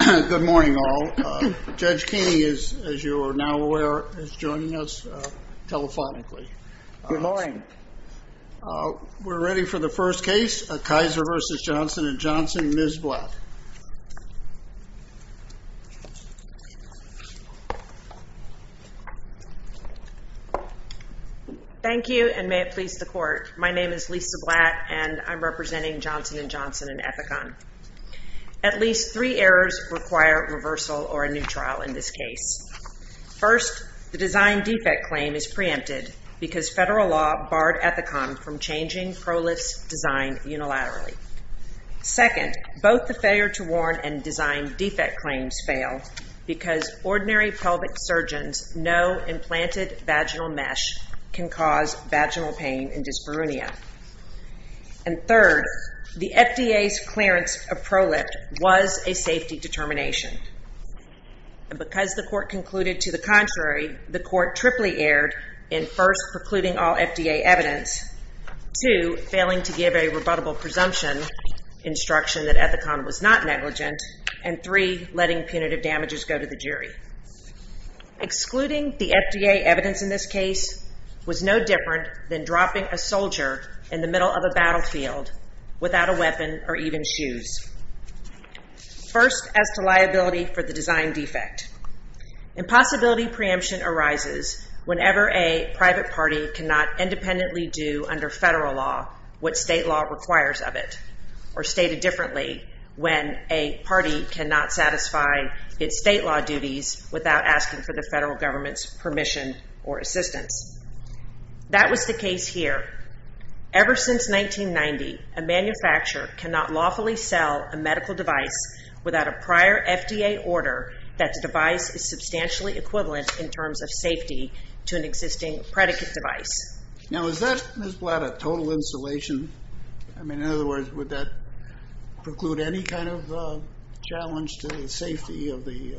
Good morning all. Judge Keeney, as you are now aware, is joining us telephonically. Good morning. We're ready for the first case, Kaiser v. Johnson & Johnson, Ms. Blatt. Thank you and may it please the court. My name is Lisa Blatt and I'm representing Johnson & Johnson in Ethicon. At least three errors require reversal or a new trial in this case. First, the design defect claim is preempted because federal law barred Ethicon from changing PROLIS design unilaterally. Second, both the failure to warn and design defect claims fail because ordinary pelvic surgeons know implanted vaginal mesh can cause vaginal pain and dyspareunia. And third, the FDA's clearance of PROLIFT was a safety determination. And because the court concluded to the contrary, the court triply erred in first precluding all FDA evidence, two, failing to give a rebuttable presumption instruction that Ethicon was not negligent, and three, letting punitive damages go to the jury. Excluding the FDA evidence in this case was no different than dropping a soldier in the middle of a battlefield without a weapon or even shoes. First, as to liability for the design defect, impossibility preemption arises whenever a private party cannot independently do under federal law what state law requires of it, or stated differently, when a party cannot satisfy its state law duties without asking for the federal government's permission or assistance. That was the case here. Ever since 1990, a manufacturer cannot lawfully sell a medical device without a prior FDA order that the device is substantially equivalent in terms of safety to an existing predicate device. Now, is that, Ms. Blatt, a total insulation? I mean, in other words, would that preclude any kind of challenge to the safety of the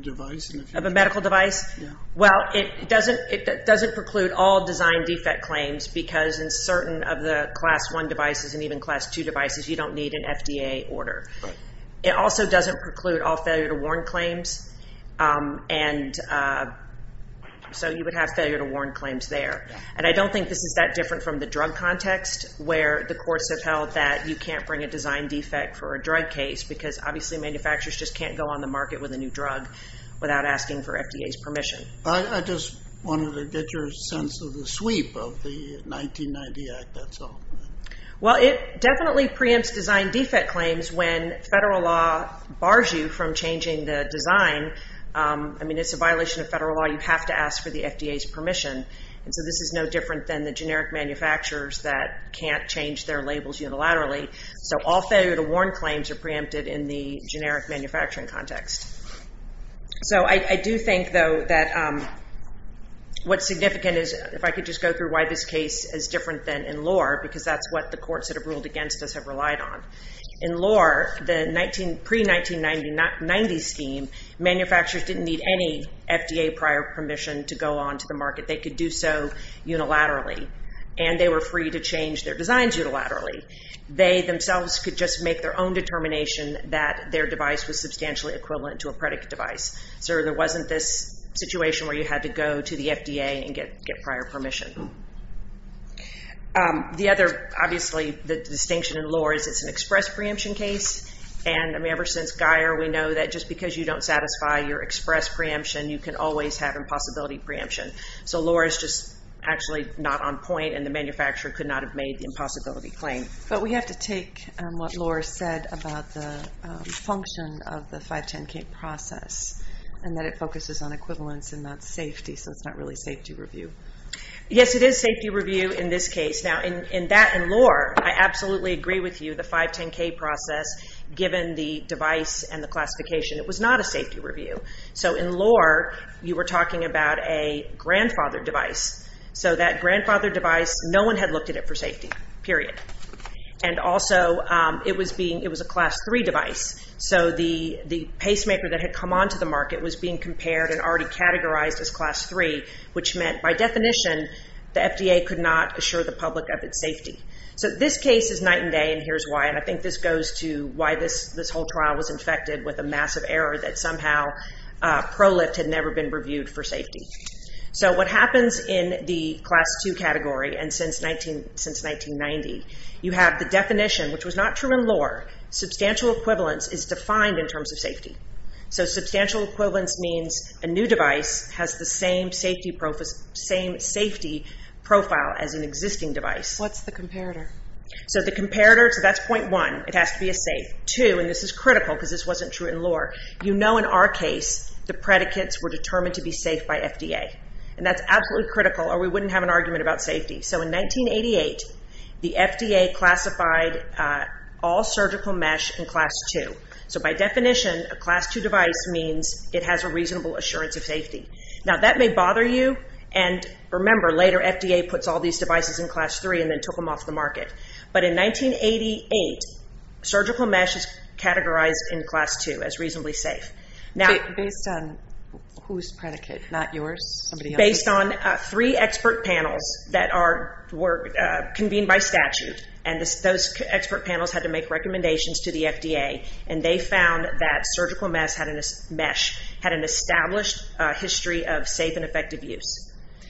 device? Of a medical device? Yeah. Well, it doesn't preclude all design defect claims because in certain of the Class I devices and even Class II devices, you don't need an FDA order. Right. It also doesn't preclude all failure to warn claims, and so you would have failure to warn claims there. And I don't think this is that different from the drug context where the courts have held that you can't bring a design defect for a drug case because obviously manufacturers just can't go on the market with a new drug without asking for FDA's permission. I just wanted to get your sense of the sweep of the 1990 Act, that's all. Well, it definitely preempts design defect claims when federal law bars you from changing the design. I mean, it's a violation of federal law. You have to ask for the FDA's permission. And so this is no different than the generic manufacturers that can't change their labels unilaterally. So all failure to warn claims are preempted in the generic manufacturing context. So I do think, though, that what's significant is if I could just go through why this case is different than in lore because that's what the courts that have ruled against us have relied on. In lore, the pre-1990 scheme, manufacturers didn't need any FDA prior permission to go on to the market. They could do so unilaterally, and they were free to change their designs unilaterally. They themselves could just make their own determination that their device was substantially equivalent to a predicate device. So there wasn't this situation where you had to go to the FDA and get prior permission. The other, obviously, the distinction in lore is it's an express preemption case. And, I mean, ever since Geier, we know that just because you don't satisfy your express preemption, you can always have impossibility preemption. So lore is just actually not on point, and the manufacturer could not have made the impossibility claim. But we have to take what lore said about the function of the 510K process and that it focuses on equivalence and not safety, so it's not really safety review. Yes, it is safety review in this case. Now, in that, in lore, I absolutely agree with you. The 510K process, given the device and the classification, it was not a safety review. So in lore, you were talking about a grandfather device. So that grandfather device, no one had looked at it for safety, period. And also, it was being, it was a class 3 device. So the pacemaker that had come onto the market was being compared and already categorized as class 3, which meant, by definition, the FDA could not assure the public of its safety. So this case is night and day, and here's why. And I think this goes to why this whole trial was infected with a massive error that somehow ProLift had never been reviewed for safety. So what happens in the class 2 category, and since 1990, you have the definition, which was not true in lore, substantial equivalence is defined in terms of safety. So substantial equivalence means a new device has the same safety profile as an existing device. What's the comparator? So the comparator, so that's point one, it has to be a safe. Two, and this is critical because this wasn't true in lore, you know in our case, the predicates were determined to be safe by FDA. And that's absolutely critical or we wouldn't have an argument about safety. So in 1988, the FDA classified all surgical mesh in class 2. So by definition, a class 2 device means it has a reasonable assurance of safety. Now that may bother you, and remember, later FDA puts all these devices in class 3 and then took them off the market. But in 1988, surgical mesh is categorized in class 2 as reasonably safe. Based on whose predicate, not yours? Based on three expert panels that were convened by statute, and those expert panels had to make recommendations to the FDA, and they found that surgical mesh had an established history of safe and effective use.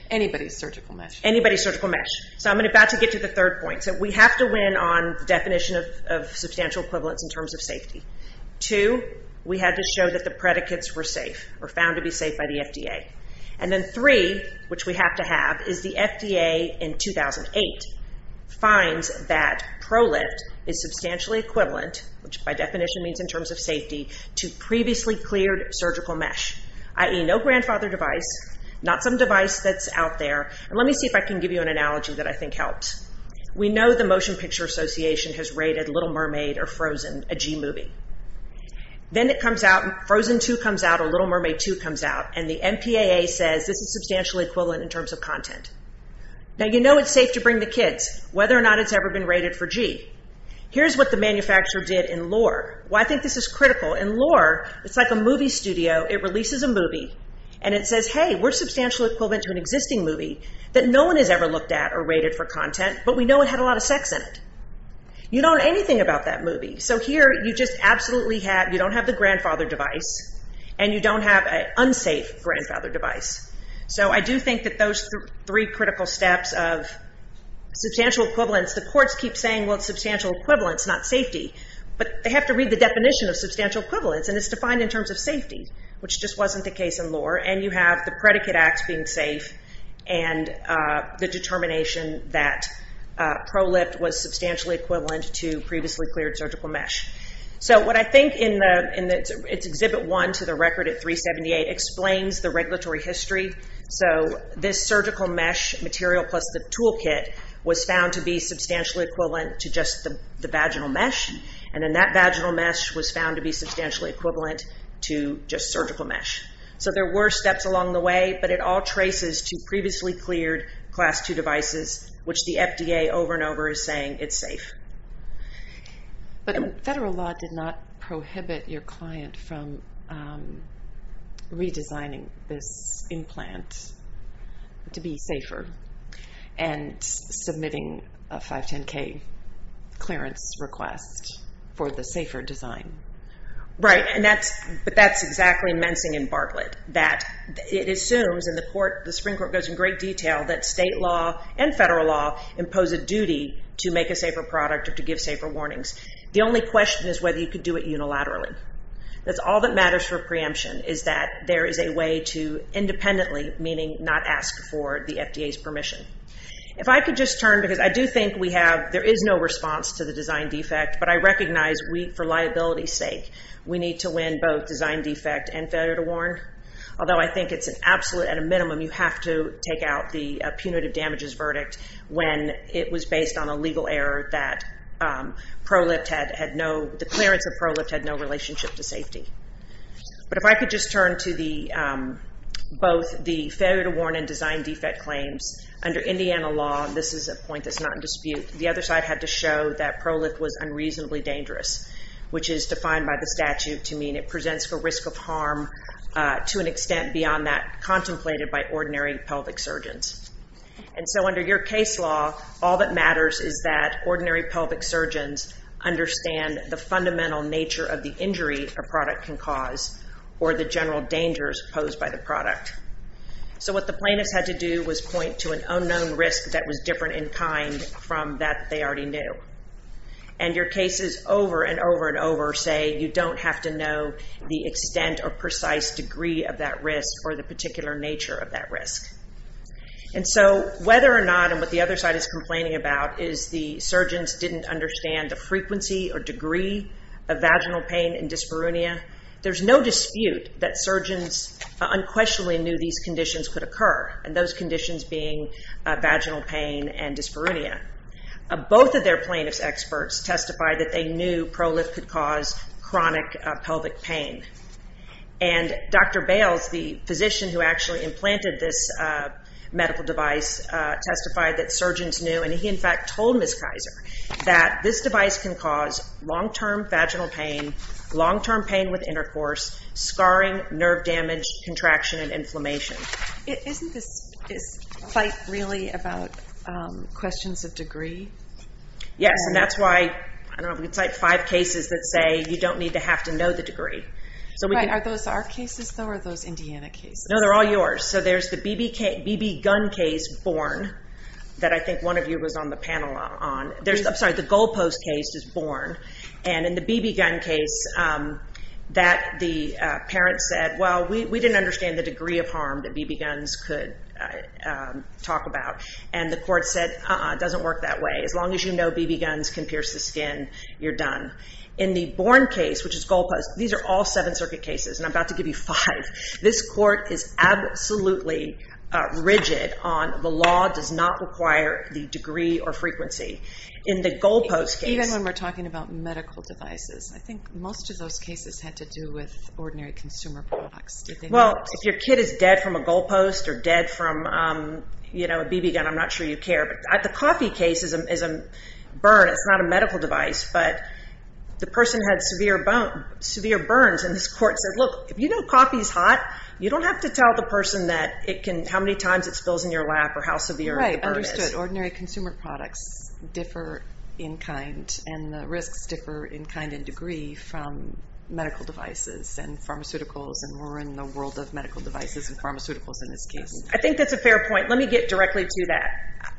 Anybody's surgical mesh. Anybody's surgical mesh. So I'm about to get to the third point. So we have to win on the definition of substantial equivalence in terms of safety. Two, we had to show that the predicates were safe or found to be safe by the FDA. And then three, which we have to have, is the FDA in 2008 finds that ProLift is substantially equivalent, which by definition means in terms of safety, to previously cleared surgical mesh, i.e. no grandfather device, not some device that's out there. And let me see if I can give you an analogy that I think helps. We know the Motion Picture Association has rated Little Mermaid or Frozen a G movie. Then it comes out, Frozen 2 comes out or Little Mermaid 2 comes out, and the MPAA says this is substantially equivalent in terms of content. Now, you know it's safe to bring the kids, whether or not it's ever been rated for G. Here's what the manufacturer did in Lore. Well, I think this is critical. In Lore, it's like a movie studio. It releases a movie, and it says, hey, we're substantially equivalent to an existing movie that no one has ever looked at or rated for content, but we know it had a lot of sex in it. You don't know anything about that movie. So here you just absolutely have, you don't have the grandfather device, and you don't have an unsafe grandfather device. So I do think that those three critical steps of substantial equivalence, the courts keep saying, well, it's substantial equivalence, not safety. But they have to read the definition of substantial equivalence, and it's defined in terms of safety, which just wasn't the case in Lore. And you have the predicate acts being safe and the determination that ProLift was substantially equivalent to previously cleared surgical mesh. So what I think in Exhibit 1 to the record at 378 explains the regulatory history. So this surgical mesh material plus the toolkit was found to be substantially equivalent to just the vaginal mesh, and then that vaginal mesh was found to be substantially equivalent to just surgical mesh. So there were steps along the way, but it all traces to previously cleared Class II devices, which the FDA over and over is saying it's safe. But federal law did not prohibit your client from redesigning this implant to be safer and submitting a 510K clearance request for the safer design. Right, but that's exactly mensing and Bartlett. It assumes, and the Supreme Court goes in great detail, that state law and federal law impose a duty to make a safer product or to give safer warnings. The only question is whether you could do it unilaterally. That's all that matters for preemption is that there is a way to independently, meaning not ask for the FDA's permission. If I could just turn, because I do think we have, there is no response to the design defect, but I recognize we, for liability's sake, we need to win both design defect and failure to warn. Although I think it's an absolute, at a minimum, you have to take out the punitive damages verdict when it was based on a legal error that ProLift had no, the clearance of ProLift had no relationship to safety. But if I could just turn to the, both the failure to warn and design defect claims. Under Indiana law, this is a point that's not in dispute, the other side had to show that ProLift was unreasonably dangerous, which is defined by the statute to mean it presents for risk of harm to an extent beyond that contemplated by ordinary pelvic surgeons. And so under your case law, all that matters is that ordinary pelvic surgeons understand the fundamental nature of the injury a product can cause or the general dangers posed by the product. So what the plaintiffs had to do was point to an unknown risk that was different in kind from that they already knew. And your cases over and over and over say you don't have to know the extent or precise degree of that risk or the particular nature of that risk. And so whether or not, and what the other side is complaining about, is the surgeons didn't understand the frequency or degree of vaginal pain and dyspareunia, there's no dispute that surgeons unquestionably knew these conditions could occur, and those conditions being vaginal pain and dyspareunia. Both of their plaintiffs' experts testified that they knew ProLift could cause chronic pelvic pain. And Dr. Bales, the physician who actually implanted this medical device, testified that surgeons knew, and he in fact told Ms. Kaiser, that this device can cause long-term vaginal pain, long-term pain with intercourse, scarring, nerve damage, contraction, and inflammation. Isn't this fight really about questions of degree? Yes, and that's why it's like five cases that say you don't need to have to know the degree. Are those our cases, though, or are those Indiana cases? No, they're all yours. So there's the BB gun case, Born, that I think one of you was on the panel on. I'm sorry, the goalpost case is Born. And in the BB gun case, the parent said, well, we didn't understand the degree of harm that BB guns could talk about. And the court said, uh-uh, it doesn't work that way. As long as you know BB guns can pierce the skin, you're done. In the Born case, which is goalpost, these are all Seventh Circuit cases, and I'm about to give you five. This court is absolutely rigid on the law does not require the degree or frequency. In the goalpost case- Even when we're talking about medical devices, I think most of those cases had to do with ordinary consumer products. Well, if your kid is dead from a goalpost or dead from a BB gun, I'm not sure you care. The coffee case is a burn. It's not a medical device, but the person had severe burns, and this court said, look, if you know coffee is hot, you don't have to tell the person how many times it spills in your lap or how severe the burn is. Right, understood. Ordinary consumer products differ in kind, and the risks differ in kind and degree from medical devices and pharmaceuticals, and we're in the world of medical devices and pharmaceuticals in this case. I think that's a fair point. Let me get directly to that.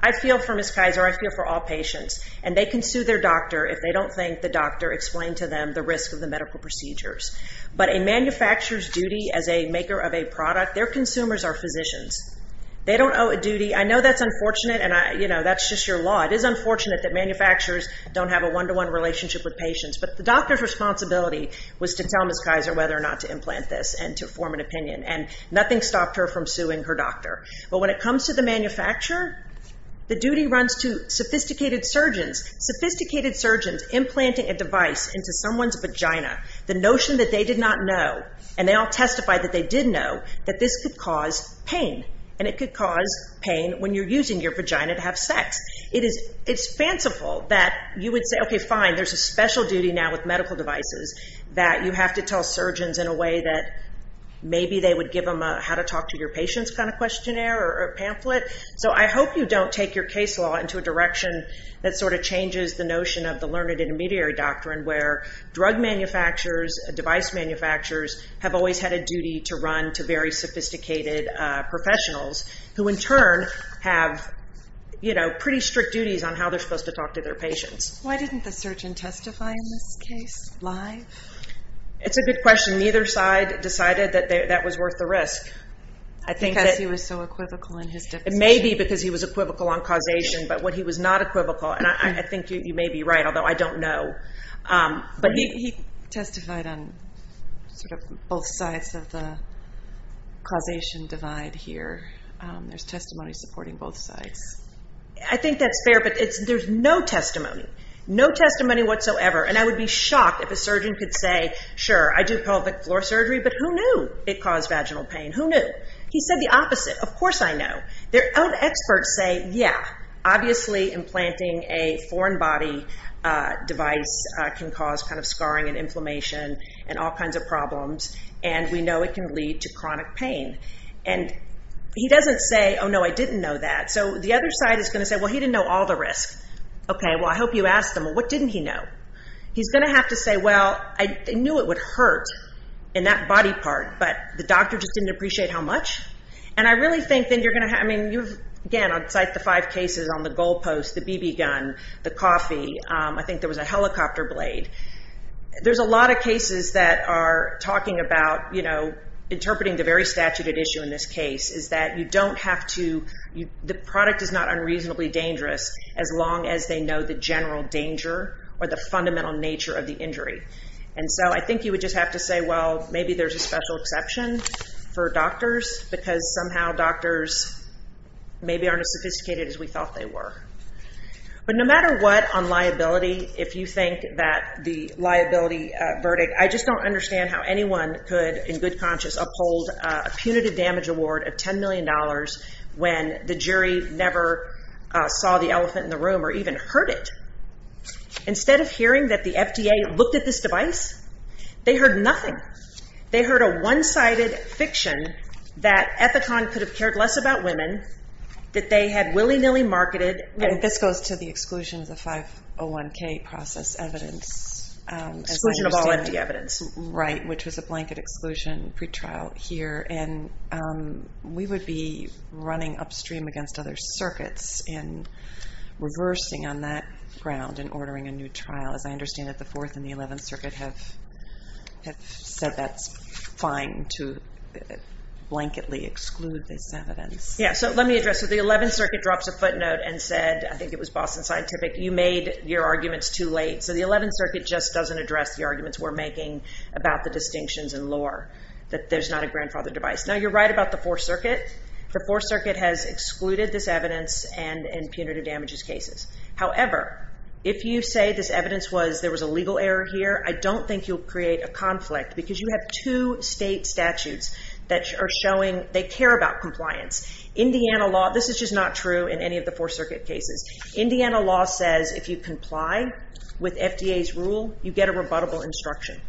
I feel for Ms. Kaiser, I feel for all patients, and they can sue their doctor if they don't think the doctor explained to them the risk of the medical procedures, but a manufacturer's duty as a maker of a product, their consumers are physicians. They don't owe a duty. I know that's unfortunate, and, you know, that's just your law. It is unfortunate that manufacturers don't have a one-to-one relationship with patients, but the doctor's responsibility was to tell Ms. Kaiser whether or not to implant this and to form an opinion, and nothing stopped her from suing her doctor. But when it comes to the manufacturer, the duty runs to sophisticated surgeons, sophisticated surgeons implanting a device into someone's vagina, the notion that they did not know, and they all testified that they did know, that this could cause pain, and it could cause pain when you're using your vagina to have sex. It's fanciful that you would say, okay, fine, there's a special duty now with medical devices that you have to tell surgeons in a way that maybe they would give them a how-to-talk-to-your-patients kind of questionnaire or pamphlet. So I hope you don't take your case law into a direction that sort of changes the notion of the learned intermediary doctrine where drug manufacturers, device manufacturers, have always had a duty to run to very sophisticated professionals who, in turn, have, you know, pretty strict duties on how they're supposed to talk to their patients. Why didn't the surgeon testify in this case live? It's a good question. Neither side decided that that was worth the risk. Because he was so equivocal in his definition. It may be because he was equivocal on causation, but what he was not equivocal, and I think you may be right, although I don't know. But he testified on sort of both sides of the causation divide here. There's testimony supporting both sides. I think that's fair, but there's no testimony, no testimony whatsoever, and I would be shocked if a surgeon could say, sure, I do pelvic floor surgery, but who knew it caused vaginal pain? Who knew? He said the opposite. Of course I know. Their own experts say, yeah, obviously, implanting a foreign body device can cause kind of scarring and inflammation and all kinds of problems, and we know it can lead to chronic pain. And he doesn't say, oh, no, I didn't know that. So the other side is going to say, well, he didn't know all the risks. Okay, well, I hope you asked him. What didn't he know? He's going to have to say, well, I knew it would hurt in that body part, but the doctor just didn't appreciate how much. And I really think then you're going to have, I mean, again, I'd cite the five cases on the goalpost, the BB gun, the coffee. I think there was a helicopter blade. There's a lot of cases that are talking about, you know, interpreting the very statute at issue in this case is that you don't have to, the product is not unreasonably dangerous as long as they know the general danger or the fundamental nature of the injury. And so I think you would just have to say, well, maybe there's a special exception for doctors, because somehow doctors maybe aren't as sophisticated as we thought they were. But no matter what on liability, if you think that the liability verdict, I just don't understand how anyone could in good conscience uphold a punitive damage award of $10 million when the jury never saw the elephant in the room or even heard it. Instead of hearing that the FDA looked at this device, they heard nothing. They heard a one-sided fiction that Ethicon could have cared less about women, that they had willy-nilly marketed. And this goes to the exclusions of 501K process evidence. Exclusion of all FDA evidence. Right, which was a blanket exclusion pretrial here. And we would be running upstream against other circuits and reversing on that ground and ordering a new trial, as I understand that the Fourth and the Eleventh Circuit have said that's fine to blanketly exclude this evidence. Yeah, so let me address it. The Eleventh Circuit drops a footnote and said, I think it was Boston Scientific, you made your arguments too late. So the Eleventh Circuit just doesn't address the arguments we're making about the distinctions in lore, that there's not a grandfather device. Now, you're right about the Fourth Circuit. The Fourth Circuit has excluded this evidence in punitive damages cases. However, if you say this evidence was there was a legal error here, I don't think you'll create a conflict because you have two state statutes that are showing they care about compliance. Indiana law, this is just not true in any of the Fourth Circuit cases. Indiana law says if you comply with FDA's rule, you get a rebuttable instruction.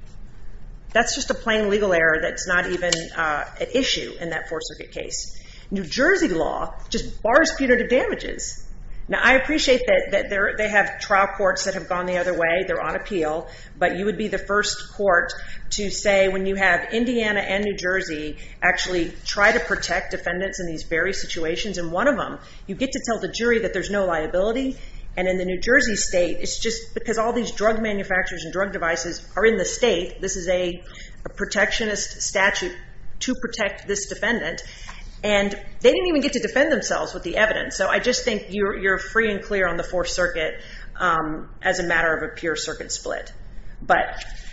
That's just a plain legal error that's not even an issue in that Fourth Circuit case. New Jersey law just bars punitive damages. Now, I appreciate that they have trial courts that have gone the other way. They're on appeal. But you would be the first court to say when you have Indiana and New Jersey actually try to protect defendants in these various situations, and one of them, you get to tell the jury that there's no liability. And in the New Jersey state, it's just because all these drug manufacturers and drug devices are in the state. This is a protectionist statute to protect this defendant. And they didn't even get to defend themselves with the evidence. So I just think you're free and clear on the Fourth Circuit as a matter of a pure circuit split.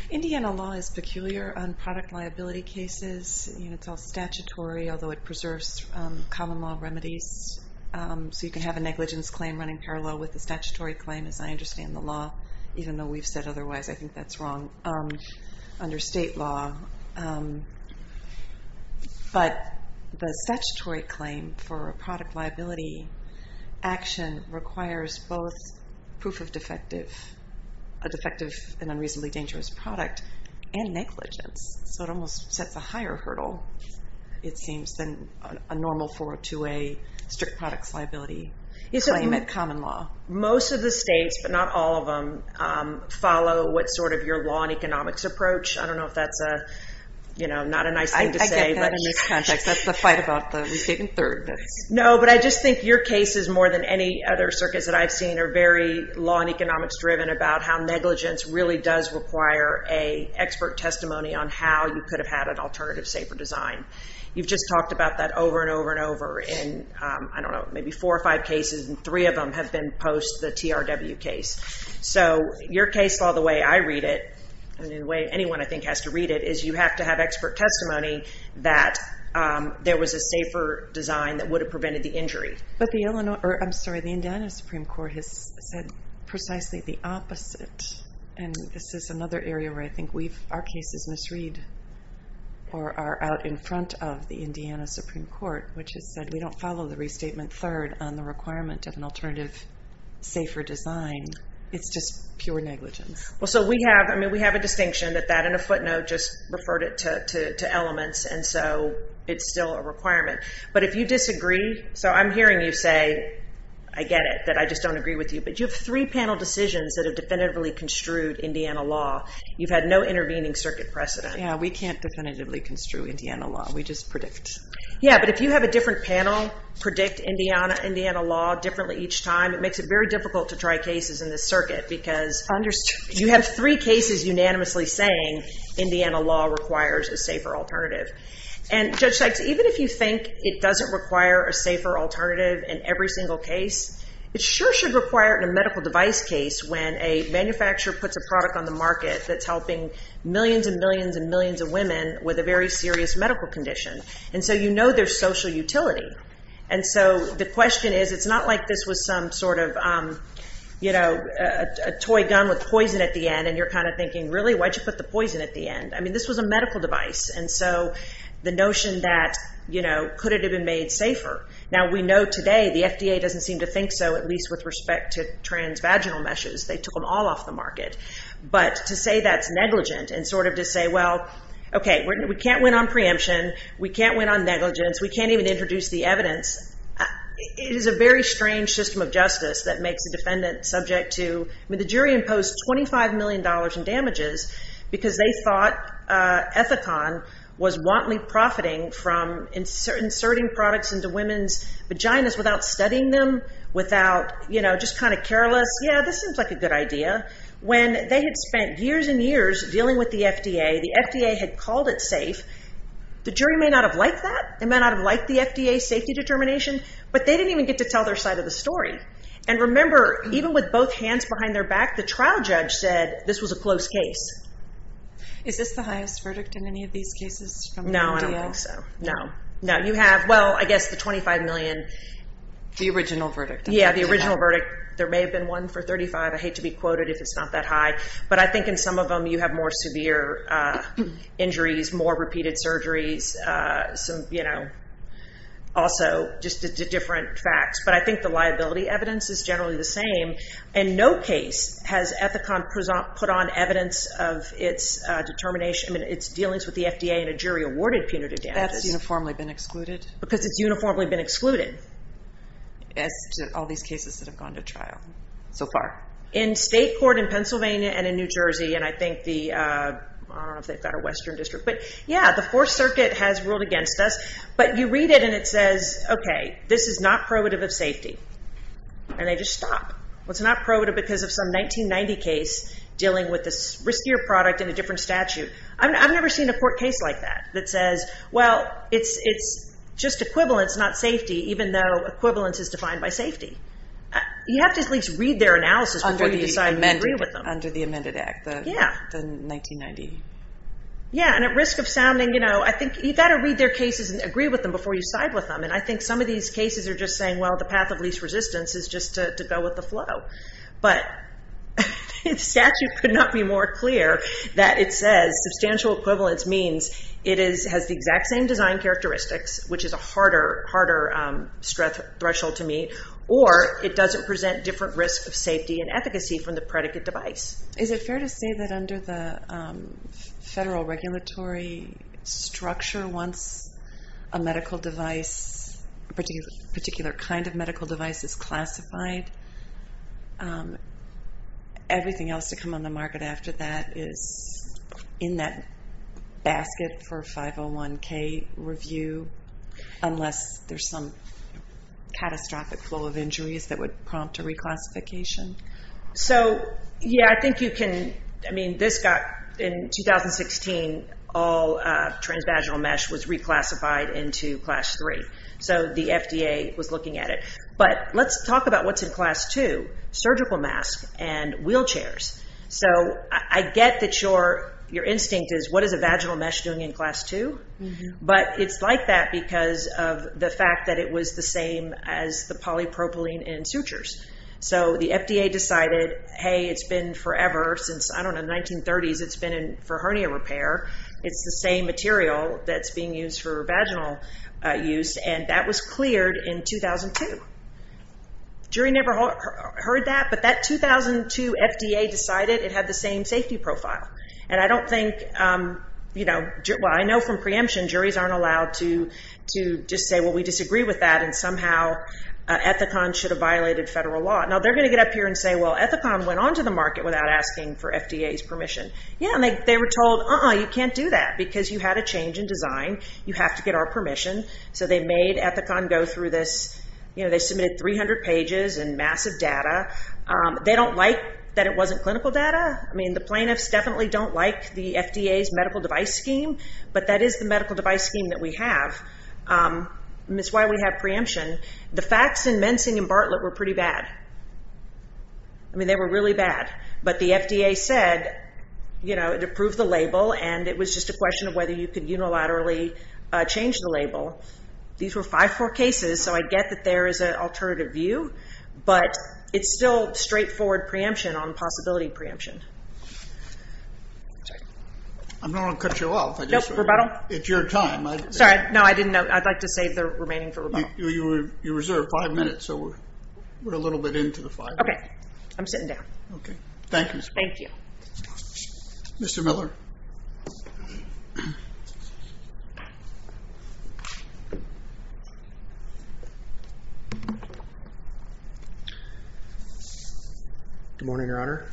Indiana law is peculiar on product liability cases. It's all statutory, although it preserves common law remedies. So you can have a negligence claim running parallel with a statutory claim, as I understand the law, even though we've said otherwise. I think that's wrong under state law. But the statutory claim for a product liability action requires both proof of defective, a defective and unreasonably dangerous product, and negligence. So it almost sets a higher hurdle, it seems, than a normal 402A strict products liability claim at common law. Most of the states, but not all of them, follow what sort of your law and economics approach. I don't know if that's not a nice thing to say. I get that in this context. That's the fight about the state and third. No, but I just think your cases, more than any other circuits that I've seen, are very law and economics driven about how negligence really does require an expert testimony on how you could have had an alternative safer design. You've just talked about that over and over and over in, I don't know, maybe four or five cases, and three of them have been post the TRW case. So your case law, the way I read it, and the way anyone, I think, has to read it, is you have to have expert testimony that there was a safer design that would have prevented the injury. But the Indiana Supreme Court has said precisely the opposite. And this is another area where I think our cases misread or are out in front of the Indiana Supreme Court, which has said we don't follow the restatement third on the requirement of an alternative safer design. It's just pure negligence. Well, so we have a distinction that that in a footnote just referred it to elements, and so it's still a requirement. But if you disagree, so I'm hearing you say, I get it, that I just don't agree with you, but you have three panel decisions that have definitively construed Indiana law. You've had no intervening circuit precedent. Yeah, we can't definitively construe Indiana law. We just predict. Yeah, but if you have a different panel, predict Indiana law differently each time, it makes it very difficult to try cases in this circuit because you have three cases unanimously saying Indiana law requires a safer alternative. And Judge Sykes, even if you think it doesn't require a safer alternative in every single case, it sure should require it in a medical device case when a manufacturer puts a product on the market that's helping millions and millions and millions of women with a very serious medical condition. And so you know there's social utility. And so the question is, it's not like this was some sort of, you know, a toy gun with poison at the end, and you're kind of thinking, really, why'd you put the poison at the end? I mean, this was a medical device, and so the notion that, you know, could it have been made safer? Now, we know today the FDA doesn't seem to think so, at least with respect to transvaginal meshes. They took them all off the market. But to say that's negligent and sort of to say, well, okay, we can't win on preemption. We can't win on negligence. We can't even introduce the evidence. It is a very strange system of justice that makes a defendant subject to the jury imposed $25 million in damages because they thought Ethicon was wantonly profiting from inserting products into women's vaginas without studying them, without, you know, just kind of careless. Yeah, this seems like a good idea. When they had spent years and years dealing with the FDA, the FDA had called it safe. The jury may not have liked that. They may not have liked the FDA's safety determination, but they didn't even get to tell their side of the story. And remember, even with both hands behind their back, the trial judge said this was a close case. Is this the highest verdict in any of these cases from the FDA? No, I don't think so. No. No, you have, well, I guess the $25 million. The original verdict. Yeah, the original verdict. There may have been one for $35 million. I hate to be quoted if it's not that high, but I think in some of them you have more severe injuries, more repeated surgeries, some, you know, also just different facts. But I think the liability evidence is generally the same, and no case has Ethicon put on evidence of its determination, I mean its dealings with the FDA and a jury awarded punitive damages. That's uniformly been excluded? Because it's uniformly been excluded. As to all these cases that have gone to trial so far. In state court in Pennsylvania and in New Jersey, and I think the, I don't know if they've got a western district, but, yeah, the Fourth Circuit has ruled against us, but you read it and it says, okay, this is not probative of safety, and they just stop. Well, it's not probative because of some 1990 case dealing with a riskier product in a different statute. I've never seen a court case like that that says, well, it's just equivalence, not safety, even though equivalence is defined by safety. You have to at least read their analysis before you decide to agree with them. Under the amended act. Yeah. The 1990. Yeah, and at risk of sounding, you know, I think you've got to read their cases and agree with them before you side with them, and I think some of these cases are just saying, well, the path of least resistance is just to go with the flow. But the statute could not be more clear that it says substantial equivalence means it has the exact same design characteristics, which is a harder threshold to meet, or it doesn't present different risks of safety and efficacy from the predicate device. Is it fair to say that under the federal regulatory structure, once a medical device, a particular kind of medical device is classified, everything else to come on the market after that is in that basket for a 501K review, unless there's some catastrophic flow of injuries that would prompt a reclassification? So, yeah, I think you can. I mean, this got in 2016, all transvaginal mesh was reclassified into class three. So the FDA was looking at it. But let's talk about what's in class two, surgical mask and wheelchairs. So I get that your instinct is what is a vaginal mesh doing in class two? But it's like that because of the fact that it was the same as the polypropylene in sutures. So the FDA decided, hey, it's been forever since, I don't know, 1930s, it's been for hernia repair. It's the same material that's being used for vaginal use. And that was cleared in 2002. Jury never heard that. But that 2002 FDA decided it had the same safety profile. And I don't think, you know, well, I know from preemption, juries aren't allowed to just say, well, we disagree with that and somehow Ethicon should have violated federal law. Now, they're going to get up here and say, well, Ethicon went on to the market without asking for FDA's permission. Yeah, and they were told, uh-uh, you can't do that because you had a change in design. You have to get our permission. So they made Ethicon go through this. You know, they submitted 300 pages in massive data. They don't like that it wasn't clinical data. I mean, the plaintiffs definitely don't like the FDA's medical device scheme, but that is the medical device scheme that we have. And that's why we have preemption. The facts in Mensing and Bartlett were pretty bad. I mean, they were really bad. But the FDA said, you know, it approved the label, and it was just a question of whether you could unilaterally change the label. These were five-four cases, so I get that there is an alternative view. But it's still straightforward preemption on possibility preemption. I'm not going to cut you off. No, rebuttal? It's your time. Sorry, no, I didn't know. I'd like to save the remaining for rebuttal. You reserved five minutes, so we're a little bit into the five minutes. OK, I'm sitting down. OK, thank you. Thank you. Mr. Miller. Good morning, Your Honor.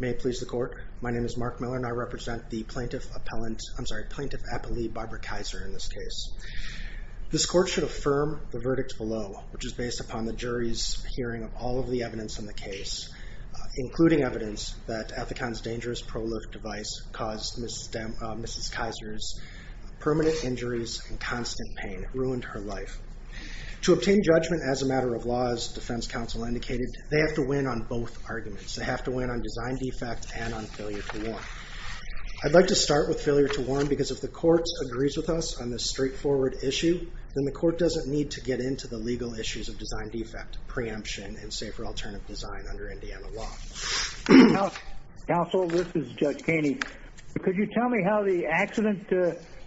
May it please the court. My name is Mark Miller, and I represent the plaintiff appellate, I'm sorry, plaintiff appellee Barbara Kaiser in this case. This court should affirm the verdict below, which is based upon the jury's hearing of all of the evidence in the case, including evidence that Ethicon's dangerous pro-lift device caused Mrs. Kaiser's permanent injuries and constant pain. It ruined her life. To obtain judgment as a matter of law, as defense counsel indicated, they have to win on both arguments. They have to win on design defect and on failure to warn. I'd like to start with failure to warn, because if the court agrees with us on this straightforward issue, then the court doesn't need to get into the legal issues of design defect, preemption, and safer alternative design under Indiana law. Counsel, this is Judge Kainey. Could you tell me how the accident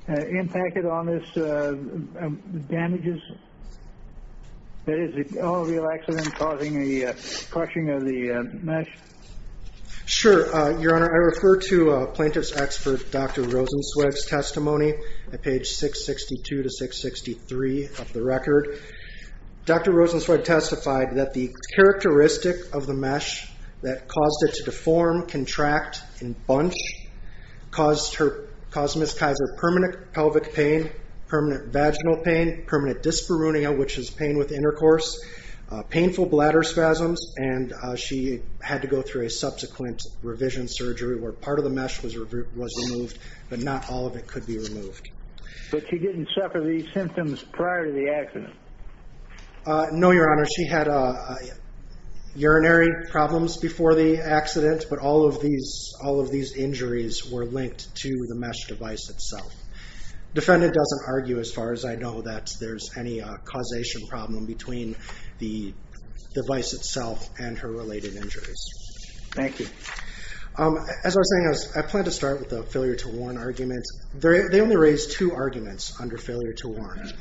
impacted on this damages? That is, all of the accidents causing the crushing of the mesh? Sure, Your Honor. This is Judge Kainey at page 662 to 663 of the record. Dr. Rosenzweig testified that the characteristic of the mesh that caused it to deform, contract, and bunch caused Mrs. Kaiser permanent pelvic pain, permanent vaginal pain, permanent dyspareunia, which is pain with intercourse, painful bladder spasms, and she had to go through a subsequent revision surgery where part of the mesh was removed, but not all of it could be removed. But she didn't suffer these symptoms prior to the accident? No, Your Honor. She had urinary problems before the accident, but all of these injuries were linked to the mesh device itself. The defendant doesn't argue, as far as I know, that there's any causation problem between the device itself and her related injuries. Thank you. As I was saying, I plan to start with the failure to warn argument. They only raised two arguments under failure to warn.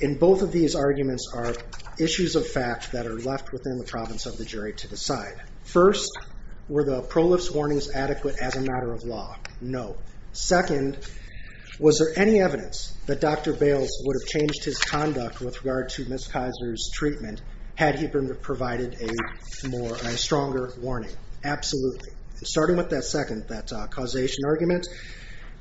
In both of these arguments are issues of fact that are left within the province of the jury to decide. First, were the prolifes warnings adequate as a matter of law? No. Second, was there any evidence that Dr. Bales would have changed his conduct with regard to Ms. Kaiser's treatment had he been provided a stronger warning? Absolutely. Starting with that second, that causation argument,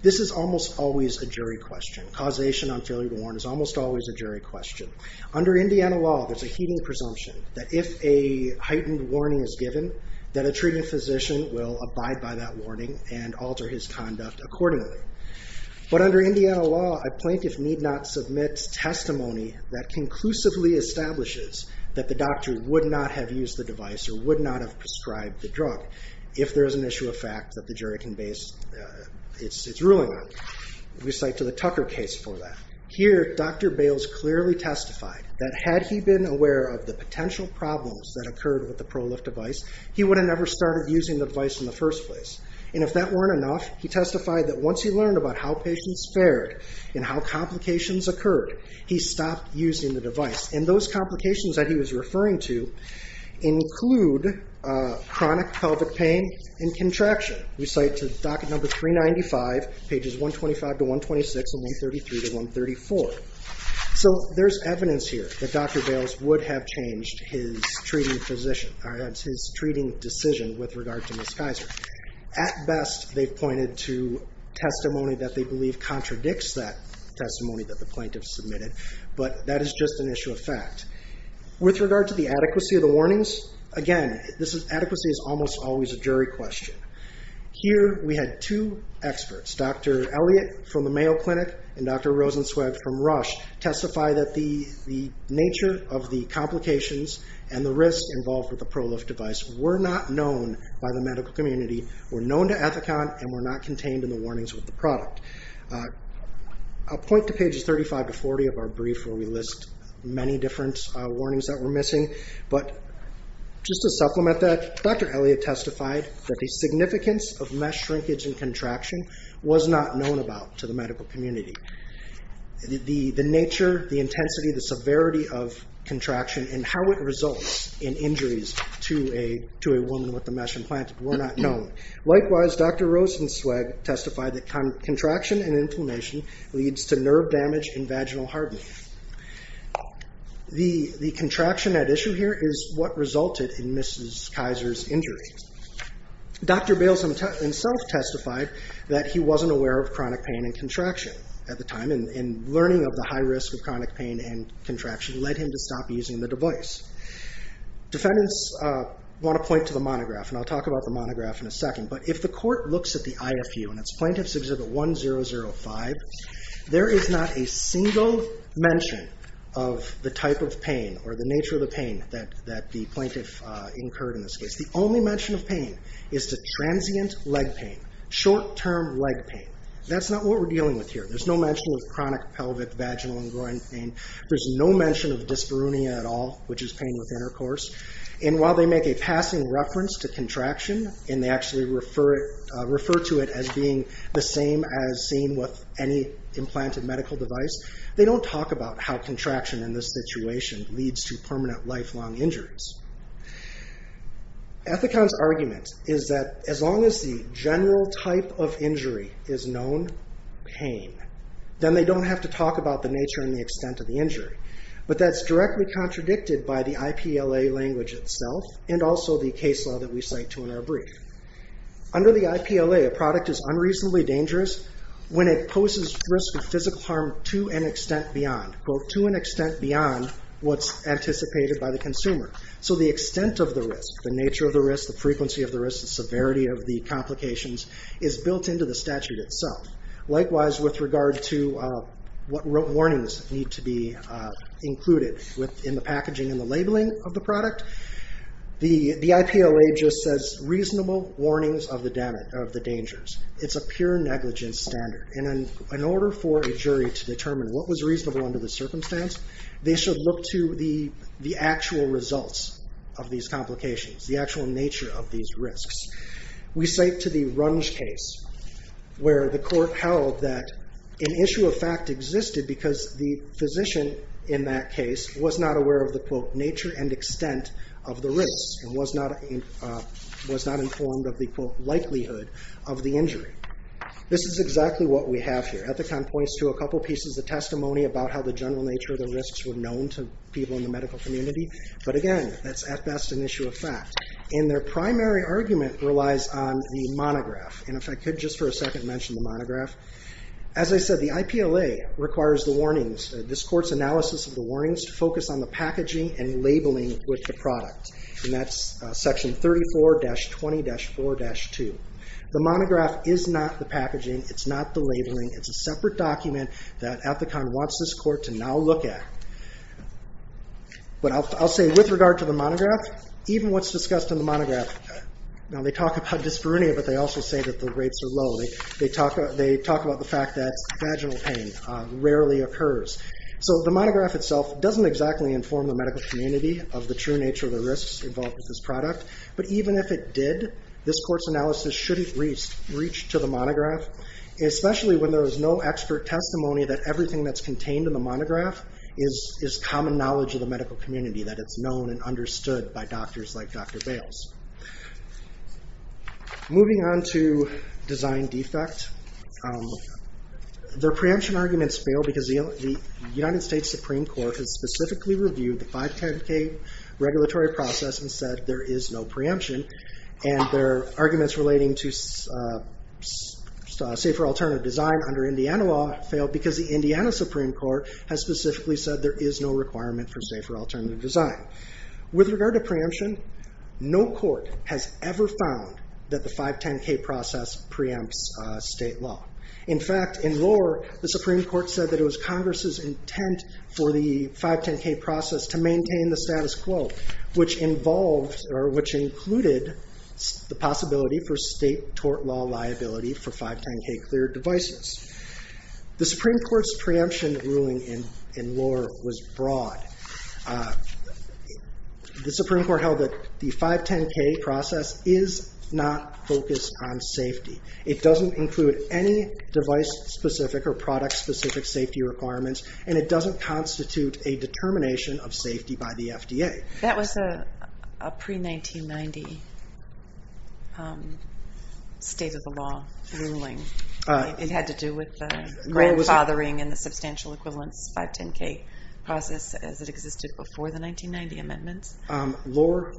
this is almost always a jury question. Causation on failure to warn is almost always a jury question. Under Indiana law, there's a heeding presumption that if a heightened warning is given, that a treating physician will abide by that warning and alter his conduct accordingly. But under Indiana law, a plaintiff need not submit testimony that conclusively establishes that the doctor would not have used the device or would not have prescribed the drug if there is an issue of fact that the jury can base its ruling on. We cite to the Tucker case for that. Here, Dr. Bales clearly testified that had he been aware of the potential problems that occurred with the prolif device, he would have never started using the device in the first place. And if that weren't enough, he testified that once he learned about how patients fared and how complications occurred, he stopped using the device. And those complications that he was referring to include chronic pelvic pain and contraction. We cite to docket number 395, pages 125 to 126 and 133 to 134. So there's evidence here that Dr. Bales would have changed his treating decision with regard to Ms. Kaiser. At best, they've pointed to testimony that they believe contradicts that testimony that the plaintiff submitted, but that is just an issue of fact. With regard to the adequacy of the warnings, again, adequacy is almost always a jury question. Here we had two experts, Dr. Elliott from the Mayo Clinic and Dr. Rosenzweig from Rush, testify that the nature of the complications and the risk involved with the prolif device were not known by the medical community, were known to Ethicon, and were not contained in the warnings with the product. I'll point to pages 35 to 40 of our brief where we list many different warnings that were missing, but just to supplement that, Dr. Elliott testified that the significance of mesh shrinkage and contraction was not known about to the medical community. The nature, the intensity, the severity of contraction and how it results in injuries to a woman with a mesh implant were not known. Likewise, Dr. Rosenzweig testified that contraction and inflammation leads to nerve damage and vaginal hardening. The contraction at issue here is what resulted in Ms. Kaiser's injury. Dr. Bales himself testified that he wasn't aware of chronic pain and contraction at the time, and learning of the high risk of chronic pain and contraction led him to stop using the device. Defendants want to point to the monograph, and I'll talk about the monograph in a second, but if the court looks at the IFU and its Plaintiff's Exhibit 1005, there is not a single mention of the type of pain or the nature of the pain that the plaintiff incurred in this case. The only mention of pain is the transient leg pain, short-term leg pain. That's not what we're dealing with here. There's no mention of chronic pelvic, vaginal, and groin pain. There's no mention of dyspareunia at all, which is pain with intercourse. While they make a passing reference to contraction, and they actually refer to it as being the same as seen with any implanted medical device, they don't talk about how contraction in this situation leads to permanent lifelong injuries. Ethicon's argument is that as long as the general type of injury is known, pain, then they don't have to talk about the nature and the extent of the injury. But that's directly contradicted by the IPLA language itself, and also the case law that we cite to in our brief. Under the IPLA, a product is unreasonably dangerous when it poses risk of physical harm to an extent beyond, quote, to an extent beyond what's anticipated by the consumer. So the extent of the risk, the nature of the risk, the frequency of the risk, the severity of the complications is built into the statute itself. Likewise, with regard to what warnings need to be included within the packaging and the labeling of the product, the IPLA just says reasonable warnings of the dangers. It's a pure negligence standard. And in order for a jury to determine what was reasonable under the circumstance, they should look to the actual results of these complications, the actual nature of these risks. We cite to the Runge case where the court held that an issue of fact existed because the physician in that case was not aware of the, quote, This is exactly what we have here. Ethicon points to a couple pieces of testimony about how the general nature of the risks were known to people in the medical community. But again, that's at best an issue of fact. And their primary argument relies on the monograph. And if I could just for a second mention the monograph. As I said, the IPLA requires the warnings, this court's analysis of the warnings, to focus on the packaging and labeling with the product. And that's section 34-20-4-2. The monograph is not the packaging. It's not the labeling. It's a separate document that Ethicon wants this court to now look at. But I'll say with regard to the monograph, even what's discussed in the monograph, now they talk about dyspareunia, but they also say that the rates are low. They talk about the fact that vaginal pain rarely occurs. So the monograph itself doesn't exactly inform the medical community of the true nature of the risks involved with this product. But even if it did, this court's analysis shouldn't reach to the monograph, especially when there is no expert testimony that everything that's contained in the monograph is common knowledge of the medical community, that it's known and understood by doctors like Dr. Bales. Moving on to design defect. Their preemption arguments fail because the United States Supreme Court has specifically reviewed the 510K regulatory process and said there is no preemption, and their arguments relating to safer alternative design under Indiana law fail because the Indiana Supreme Court has specifically said there is no requirement for safer alternative design. With regard to preemption, no court has ever found that the 510K process preempts state law. In fact, in lore, the Supreme Court said that it was Congress's intent for the 510K process to maintain the status quo, which included the possibility for state tort law liability for 510K cleared devices. The Supreme Court's preemption ruling in lore was broad. The Supreme Court held that the 510K process is not focused on safety. It doesn't include any device-specific or product-specific safety requirements, and it doesn't constitute a determination of safety by the FDA. That was a pre-1990 state-of-the-law ruling. It had to do with the grandfathering and the substantial equivalence 510K process as it existed before the 1990 amendments? Lore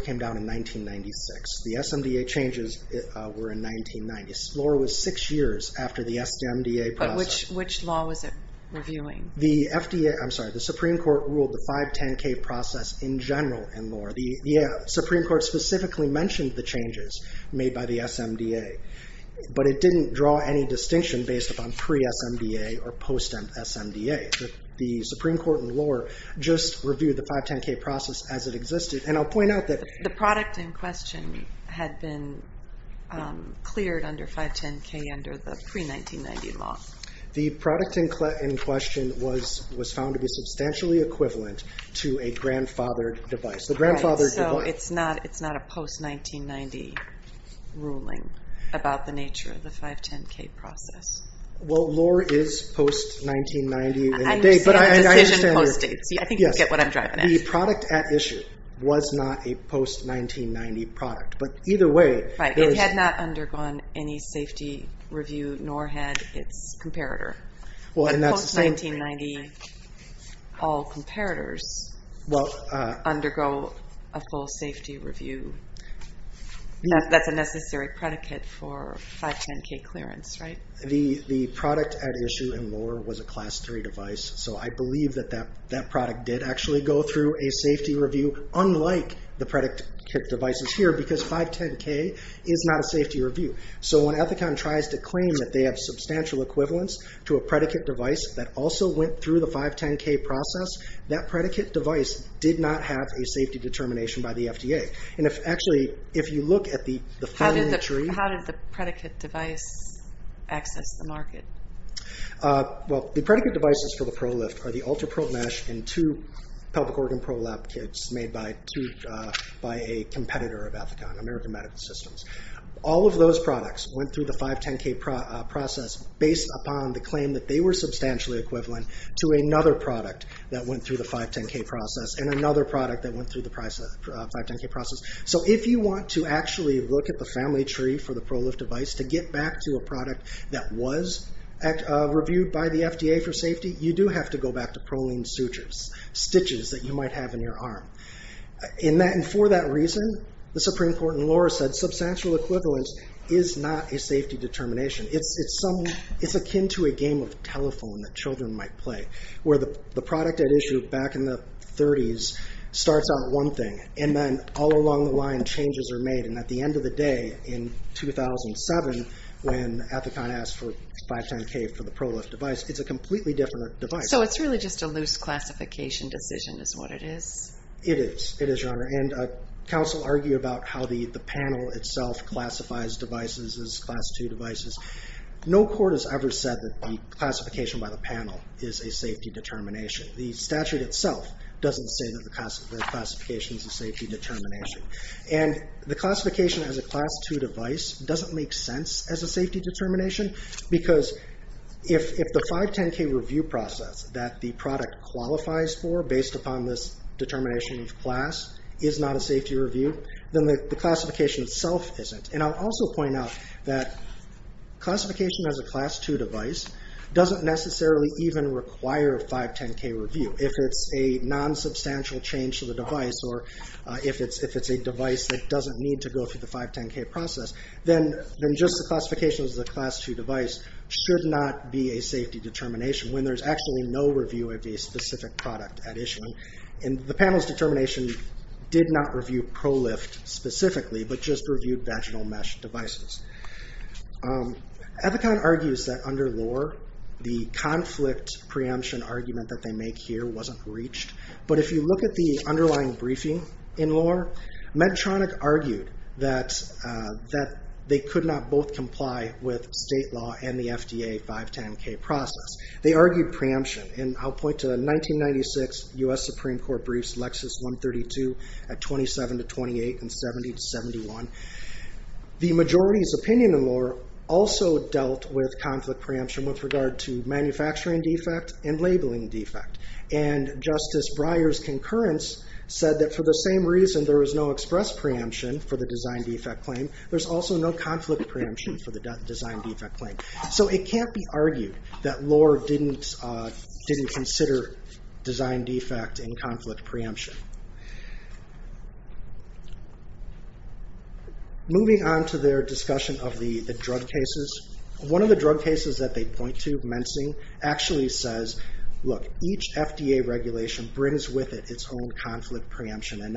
came down in 1996. The SMDA changes were in 1990. Lore was six years after the SMDA process. Which law was it reviewing? The FDA... I'm sorry. The Supreme Court ruled the 510K process in general in lore. The Supreme Court specifically mentioned the changes made by the SMDA, but it didn't draw any distinction based upon pre-SMDA or post-SMDA. The Supreme Court in lore just reviewed the 510K process as it existed, and I'll point out that... The product in question had been cleared under 510K under the pre-1990 law. The product in question was found to be substantially equivalent to a grandfathered device. All right, so it's not a post-1990 ruling about the nature of the 510K process. Well, lore is post-1990. I'm saying decision post-date, so I think you get what I'm driving at. The product at issue was not a post-1990 product, but either way... It had not undergone any safety review, nor had its comparator. Post-1990, all comparators undergo a full safety review. That's a necessary predicate for 510K clearance, right? The product at issue in lore was a Class III device, so I believe that that product did actually go through a safety review, unlike the predicate devices here, because 510K is not a safety review. So when Ethicon tries to claim that they have substantial equivalence to a predicate device that also went through the 510K process, that predicate device did not have a safety determination by the FDA. Actually, if you look at the... How did the predicate device access the market? Well, the predicate devices for the ProLift are the UltraPro mesh and two pelvic organ ProLap kits made by a competitor of Ethicon, American Medical Systems. All of those products went through the 510K process based upon the claim that they were substantially equivalent to another product that went through the 510K process, and another product that went through the 510K process. So if you want to actually look at the family tree for the ProLift device to get back to a product that was reviewed by the FDA for safety, you do have to go back to proline sutures, stitches that you might have in your arm. And for that reason, the Supreme Court in Laura said substantial equivalence is not a safety determination. It's akin to a game of telephone that children might play, where the product at issue back in the 30s starts out one thing, and then all along the line, changes are made. And at the end of the day, in 2007, when Ethicon asked for 510K for the ProLift device, it's a completely different device. So it's really just a loose classification decision is what it is? It is. It is, Your Honor. And counsel argue about how the panel itself classifies devices as Class II devices. No court has ever said that the classification by the panel is a safety determination. The statute itself doesn't say that the classification is a safety determination. And the classification as a Class II device doesn't make sense as a safety determination, because if the 510K review process that the product qualifies for based upon this determination of class is not a safety review, then the classification itself isn't. And I'll also point out that classification as a Class II device doesn't necessarily even require a 510K review. If it's a nonsubstantial change to the device, or if it's a device that doesn't need to go through the 510K process, then just the classification as a Class II device should not be a safety determination when there's actually no review of a specific product at issue. And the panel's determination did not review ProLift specifically, but just reviewed vaginal mesh devices. Epicon argues that under Lohr, the conflict preemption argument that they make here wasn't reached. But if you look at the underlying briefing in Lohr, Medtronic argued that they could not both comply with state law and the FDA 510K process. They argued preemption. And I'll point to 1996 U.S. Supreme Court briefs, Lexis 132 at 27 to 28 and 70 to 71. The majority's opinion in Lohr also dealt with conflict preemption with regard to manufacturing defect and labeling defect. And Justice Breyer's concurrence said that for the same reason there was no express preemption for the design defect claim, there's also no conflict preemption for the design defect claim. So it can't be argued that Lohr didn't consider design defect in conflict preemption. Moving on to their discussion of the drug cases, one of the drug cases that they point to, mensing, actually says, look, each FDA regulation brings with it its own conflict preemption and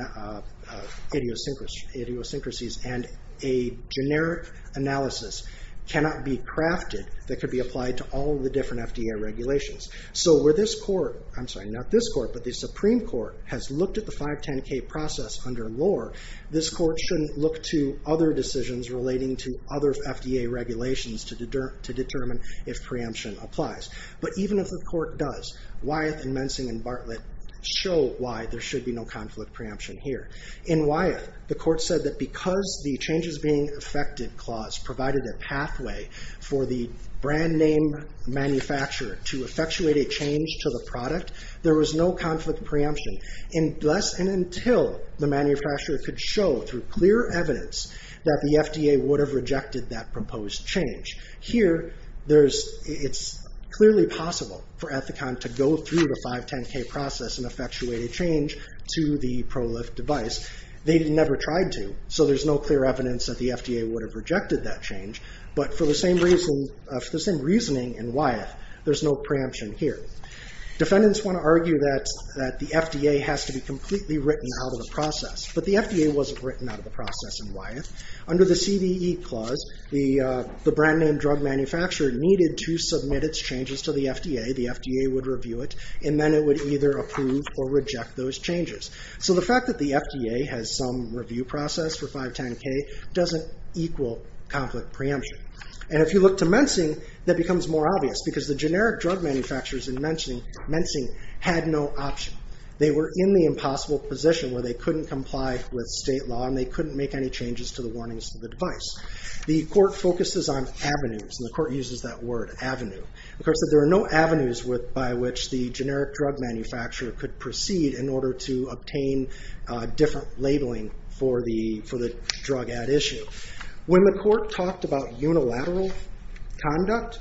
idiosyncrasies. And a generic analysis cannot be crafted that could be applied to all of the different FDA regulations. So where this court, I'm sorry, not this court, but the Supreme Court has looked at the 510K process under Lohr, this court shouldn't look to other decisions relating to other FDA regulations to determine if preemption applies. But even if the court does, Wyeth and mensing and Bartlett show why there should be no conflict preemption here. In Wyeth, the court said that because the changes being affected clause provided a pathway for the brand name manufacturer to effectuate a change to the product, there was no conflict preemption unless and until the manufacturer could show through clear evidence that the FDA would have rejected that proposed change. Here, it's clearly possible for Ethicon to go through the 510K process and effectuate a change to the ProLift device. They never tried to, so there's no clear evidence that the FDA would have rejected that change. But for the same reasoning in Wyeth, there's no preemption here. Defendants want to argue that the FDA has to be completely written out of the process, but the FDA wasn't written out of the process in Wyeth. Under the CVE clause, the brand name drug manufacturer needed to submit its changes to the FDA, the FDA would review it, and then it would either approve or reject those changes. So the fact that the FDA has some review process for 510K doesn't equal conflict preemption. And if you look to mensing, that becomes more obvious, because the generic drug manufacturers in mensing had no option. They were in the impossible position where they couldn't comply with state law and they couldn't make any changes to the warnings of the device. The court focuses on avenues, and the court uses that word avenue. The court said there are no avenues by which the generic drug manufacturer could proceed in order to obtain different labeling for the drug ad issue. When the court talked about unilateral conduct,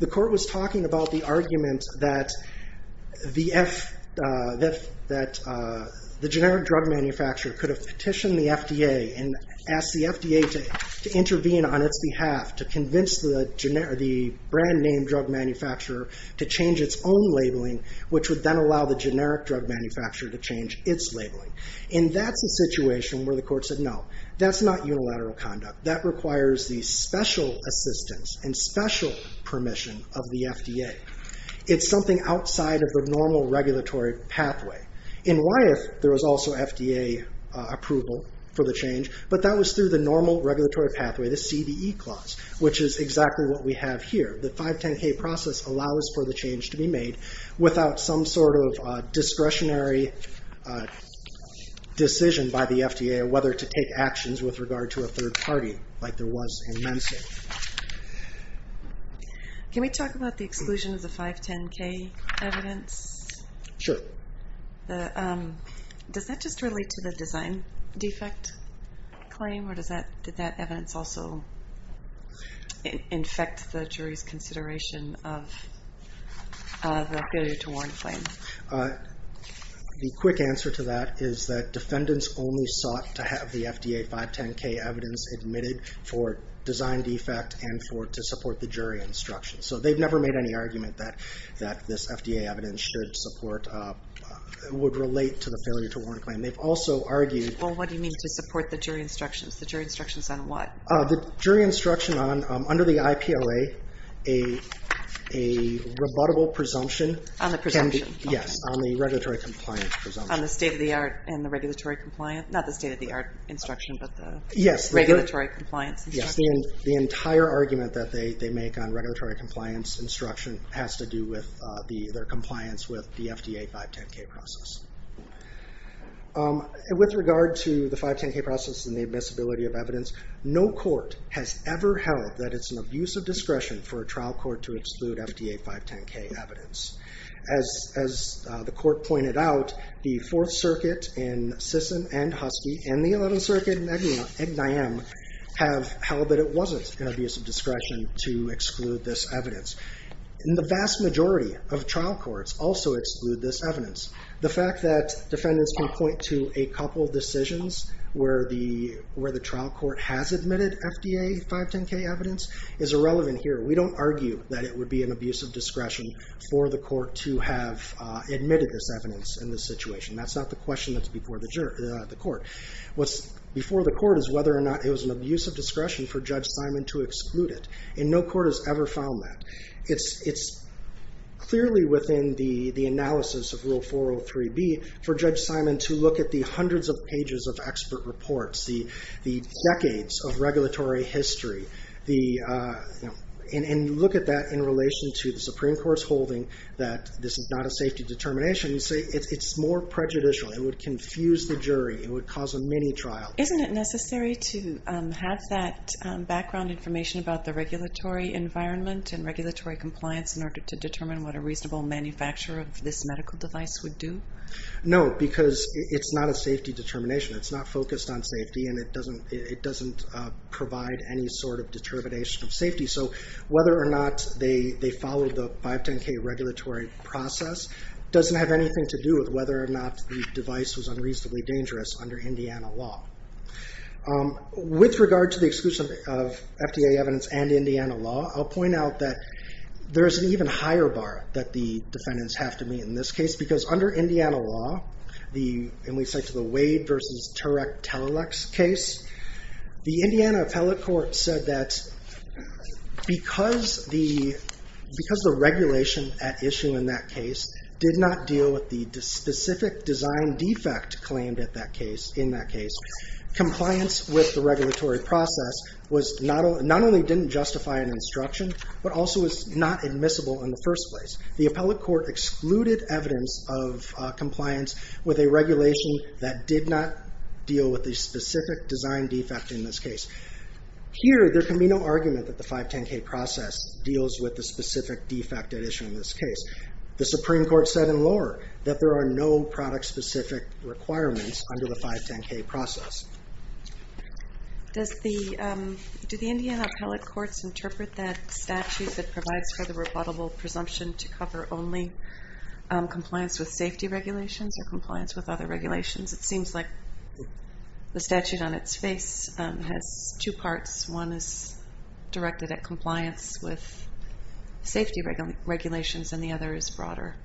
the court was talking about the argument that the generic drug manufacturer could have petitioned the FDA and asked the FDA to intervene on its behalf to convince the brand name drug manufacturer to change its own labeling, which would then allow the generic drug manufacturer to change its labeling. And that's a situation where the court said, no, that's not unilateral conduct. That requires the special assistance and special permission of the FDA. It's something outside of the normal regulatory pathway. And why if there was also FDA approval for the change, but that was through the normal regulatory pathway, the CVE clause, which is exactly what we have here. The 510K process allows for the change to be made without some sort of discretionary decision by the FDA on whether to take actions with regard to a third party like there was in Mensa. Can we talk about the exclusion of the 510K evidence? Sure. Does that just relate to the design defect claim, or did that evidence also infect the jury's consideration of the failure to warn claim? The quick answer to that is that defendants only sought to have the FDA 510K evidence admitted for design defect and to support the jury instruction. So they've never made any argument that this FDA evidence should support, would relate to the failure to warn claim. They've also argued... Well, what do you mean to support the jury instructions? The jury instructions on what? The jury instruction on, under the IPOA, a rebuttable presumption... On the presumption. Yes, on the regulatory compliance presumption. On the state-of-the-art and the regulatory compliant, not the state-of-the-art instruction, but the regulatory compliance instruction. Yes, the entire argument that they make on regulatory compliance instruction has to do with their compliance with the FDA 510K process. With regard to the 510K process and the admissibility of evidence, no court has ever held that it's an abuse of discretion for a trial court to exclude FDA 510K evidence. As the court pointed out, the Fourth Circuit in Sisson and Husky, and the Eleventh Circuit in Egniam, have held that it excludes evidence. The vast majority of trial courts also exclude this evidence. The fact that defendants can point to a couple of decisions where the trial court has admitted FDA 510K evidence is irrelevant here. We don't argue that it would be an abuse of discretion for the court to have admitted this evidence in this situation. That's not the question that's before the court. What's before the court is whether or not it was an abuse of discretion for Judge Simon to exclude it. No court has ever found that. It's clearly within the analysis of Rule 403B for Judge Simon to look at the hundreds of pages of expert reports, the decades of regulatory history, and look at that in relation to the Supreme Court's holding that this is not a safety determination. It's more prejudicial. It would confuse the jury. It would cause a mini-trial. Isn't it necessary to have that background information about the regulatory environment and regulatory compliance in order to determine what a reasonable manufacturer of this medical device would do? No, because it's not a safety determination. It's not focused on safety, and it doesn't provide any sort of determination of safety. So whether or not they followed the 510K regulatory process doesn't have anything to do with whether or not the device was unreasonably dangerous under Indiana law. With regard to the exclusion of FDA evidence and Indiana law, I'll point out that there is an even higher bar that the defendants have to meet in this case, because under Indiana law, and we cite to the Wade v. Turek-Telalec case, the Indiana appellate court said that because the regulation at issue in that case did not deal with the specific design defect claimed in that case, compliance with the regulatory process not only didn't justify an instruction, but also was not admissible in the first place. The appellate court excluded evidence of compliance with a regulation that did not deal with the specific design defect in this case. Here, there can be no argument that the 510K process deals with the specific defect at issue in this case. The Supreme Court said in lore that there are no product-specific requirements under the 510K process. Do the Indiana appellate courts interpret that statute that provides for the rebuttable presumption to cover only compliance with safety regulations or compliance with other regulations? It seems like the statute on its face has two parts. One is directed at compliance with safety regulations, and the other is broader.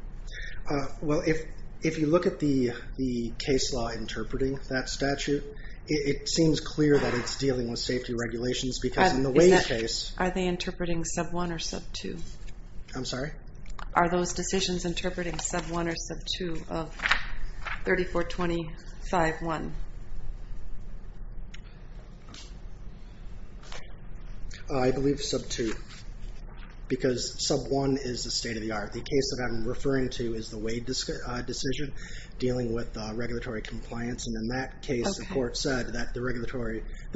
Well, if you look at the case law interpreting that statute, it seems clear that it's dealing with safety regulations, because in the Wade case... Are they interpreting sub-1 or sub-2? I'm sorry? Are those decisions interpreting sub-1 or sub-2 of 3425-1? I believe sub-2, because sub-1 is the state-of-the-art. The case that I'm referring to is the Wade decision, dealing with regulatory compliance, and in that case, the court said that the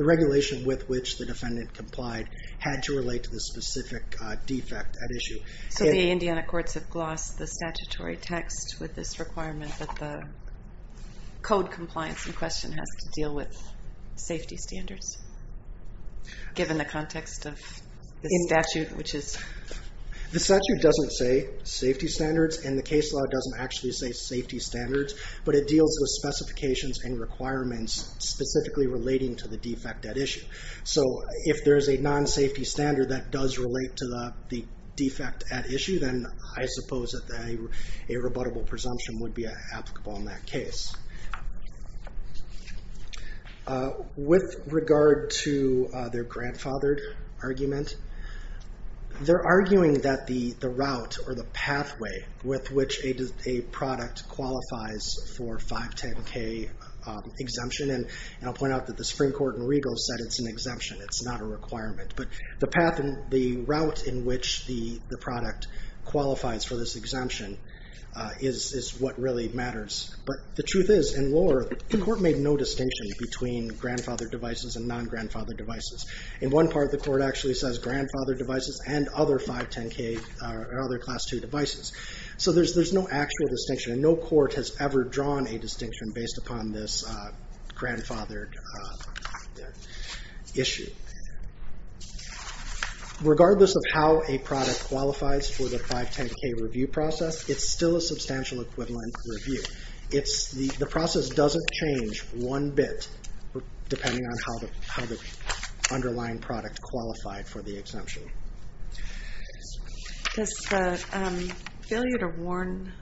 regulation with which the defendant complied had to relate to the specific defect at issue. So the Indiana courts have glossed the statutory text with this requirement that the code compliance in question has to deal with safety standards, given the context of the statute, which is... The statute doesn't say safety standards, and the case law doesn't actually say safety standards, but it deals with specifications and requirements specifically relating to the defect at issue. So if there is a non-safety standard that does relate to the defect at issue, then I suppose that a rebuttable presumption would be applicable in that case. With regard to their grandfathered argument, they're arguing that the route or the pathway with which a product qualifies for a 510-K exemption, and I'll point out that the Supreme Court in Regal said it's an exemption, it's not a requirement, but the route in which the product qualifies for this exemption is what really matters. But the truth is, in Lower Earth, the court made no distinction between grandfathered devices and non-grandfathered devices. In one part, the court actually says grandfathered devices and other 510-K or other Class II devices. So there's no actual distinction, and no court has ever drawn a distinction based upon this grandfathered issue. Regardless of how a product qualifies for the 510-K review process, it's still a substantial equivalent review. The process doesn't change one bit depending on how the underlying product qualified for the exemption. Does the failure to warn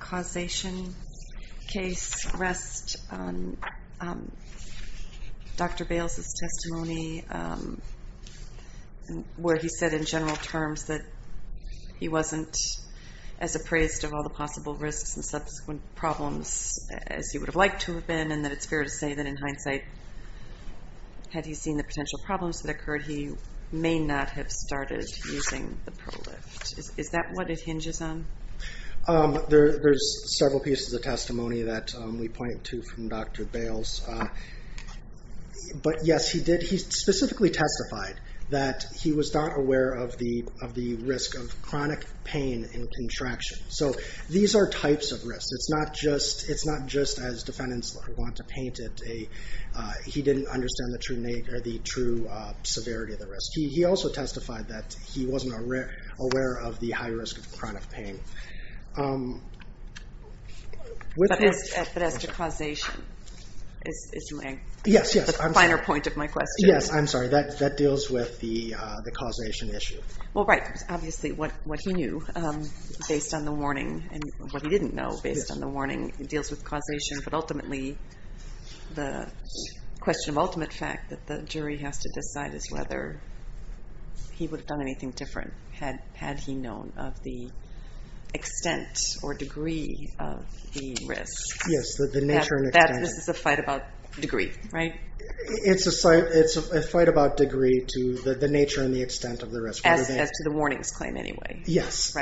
causation case rest on Dr. Bales' testimony where he said in general terms that he wasn't as appraised of all the possible risks and subsequent problems as he would have liked to have been, and that it's fair to say that in hindsight, had he seen the potential problems that occurred, he may not have started using the ProLift. Is that what it hinges on? There's several pieces of testimony that we point to from Dr. Bales. But yes, he did. He specifically testified that he was not aware of the risk of chronic pain and contraction. So these are types of risks. It's not just as defendants want to paint it. He didn't understand the true severity of the risk. He also testified that he wasn't aware of the high risk of chronic pain. But as to causation, is the finer point of my question. Yes, I'm sorry. That deals with the causation issue. Well, right. Obviously, what he knew based on the warning and what he didn't know based on the warning deals with causation. But ultimately, the question of ultimate fact that the jury has to decide is whether he would have done anything different had he known of the extent or degree of the risk. Yes, the nature and extent. This is a fight about degree, right? It's a fight about degree to the nature and the extent of the risk. As to the warnings claim, anyway. Yes.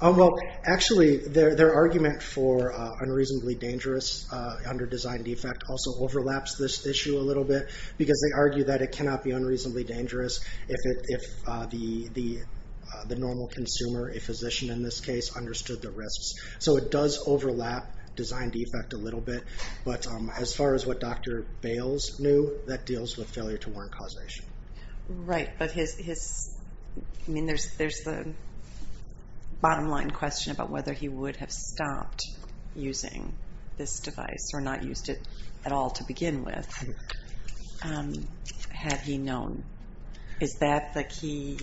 Well, actually, their argument for unreasonably dangerous under-designed defect also overlaps this issue a little bit. Because they argue that it cannot be unreasonably dangerous if the normal consumer, a physician in this case, understood the risks. So it does overlap design defect a little bit. But as far as what Dr. Bales knew, that deals with failure to warn causation. Right, but there's the bottom line question about whether he would have stopped using this device or not used it at all to begin with had he known. Is that the key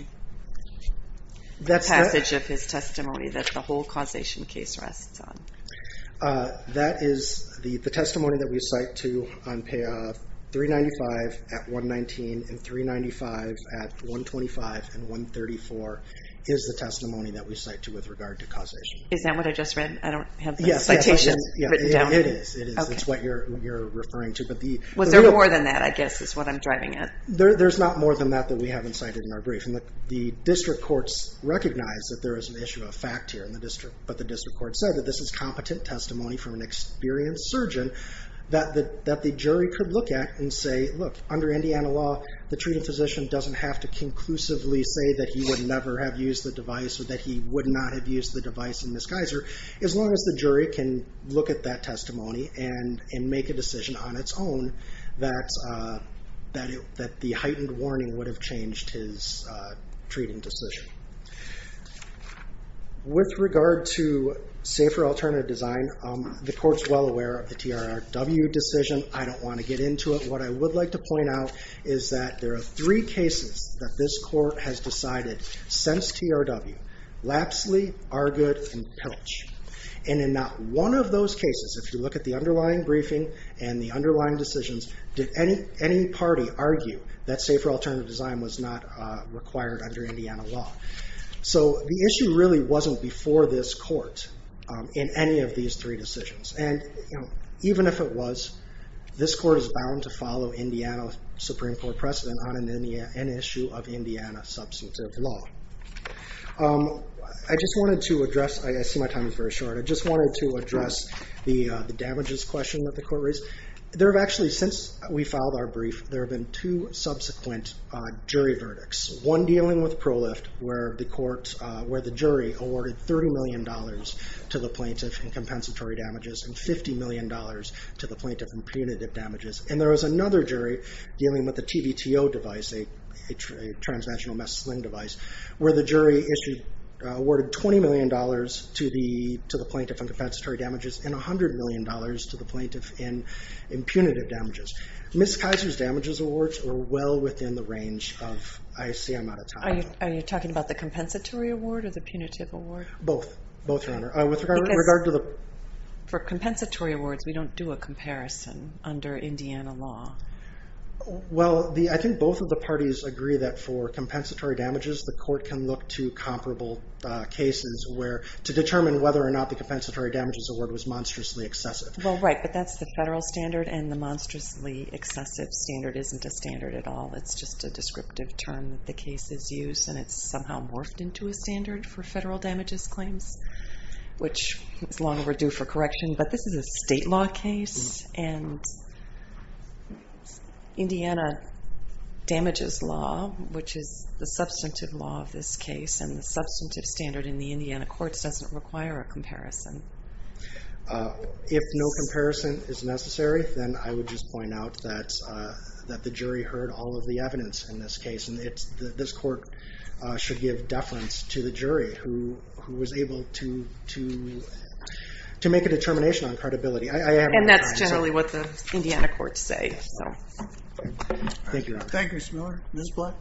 passage of his testimony that the whole causation case rests on? That is the testimony that we cite to on payoff. 395 at 119 and 395 at 125 and 134 is the testimony that we cite to with regard to causation. Is that what I just read? I don't have the citations written down. Yes, it is. It's what you're referring to. Was there more than that I guess is what I'm driving at? There's not more than that that we haven't cited in our brief. The district courts recognize that there is an issue of fact here in the district. But the district court said that this is competent testimony from an experienced surgeon that the jury could look at and say, look, under Indiana law, the treated physician doesn't have to conclusively say that he would never have used the device or that he would not have used the device in disguiser as long as the jury can look at that testimony and make a decision on its own that the heightened warning would have changed his treating decision. With regard to safer alternative design, the court's well aware of the TRW decision. I don't want to get into it. What I would like to point out is that there are three cases that this court has decided since TRW, Lapsley, Argood, and Pilch. And in not one of those cases, if you look at the underlying briefing and the underlying decisions, did any party argue that safer alternative design was not required under Indiana law? So the issue really wasn't before this court in any of these three decisions. And even if it was, this court is bound to follow Indiana Supreme Court precedent on an issue of Indiana substantive law. I just wanted to address, I see my time is very short, but I just wanted to address the damages question that the court raised. There have actually, since we filed our brief, there have been two subsequent jury verdicts. One dealing with ProLift, where the jury awarded $30 million to the plaintiff in compensatory damages and $50 million to the plaintiff in punitive damages. And there was another jury dealing with the TVTO device, a transnational mess sling device, where the jury awarded $20 million to the plaintiff in compensatory damages and $100 million to the plaintiff in punitive damages. Ms. Kaiser's damages awards were well within the range of, I see I'm out of time. Are you talking about the compensatory award or the punitive award? Both, both, Your Honor. Because for compensatory awards, we don't do a comparison under Indiana law. Well, I think both of the parties agree that for compensatory damages, the court can look to comparable cases to determine whether or not the compensatory damages award was monstrously excessive. Well, right, but that's the federal standard and the monstrously excessive standard isn't a standard at all. It's just a descriptive term that the case is used and it's somehow morphed into a standard for federal damages claims, which is long overdue for correction. But this is a state law case and Indiana damages law, which is the substantive law of this case and the substantive standard in the Indiana courts doesn't require a comparison. If no comparison is necessary, then I would just point out that the jury heard all of the evidence in this case and this court should give deference to the jury who was able to make a determination on credibility. And that's generally what the Indiana courts say. Thank you, Ms. Miller. Ms. Black?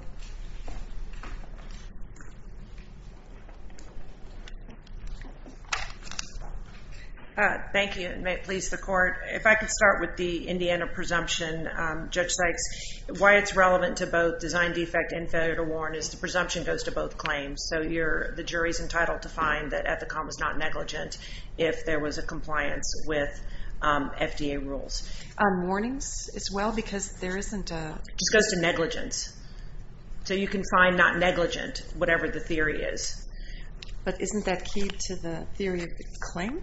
Thank you, and may it please the court. If I could start with the Indiana presumption. Judge Sykes, why it's relevant to both design defect and failure to warn is the presumption goes to both claims. So the jury's entitled to find that Ethicom was not negligent if there was a compliance with FDA rules. Are warnings as well? Because there isn't a... It just goes to negligence. So you can find not negligent, whatever the theory is. But isn't that key to the theory of the claim?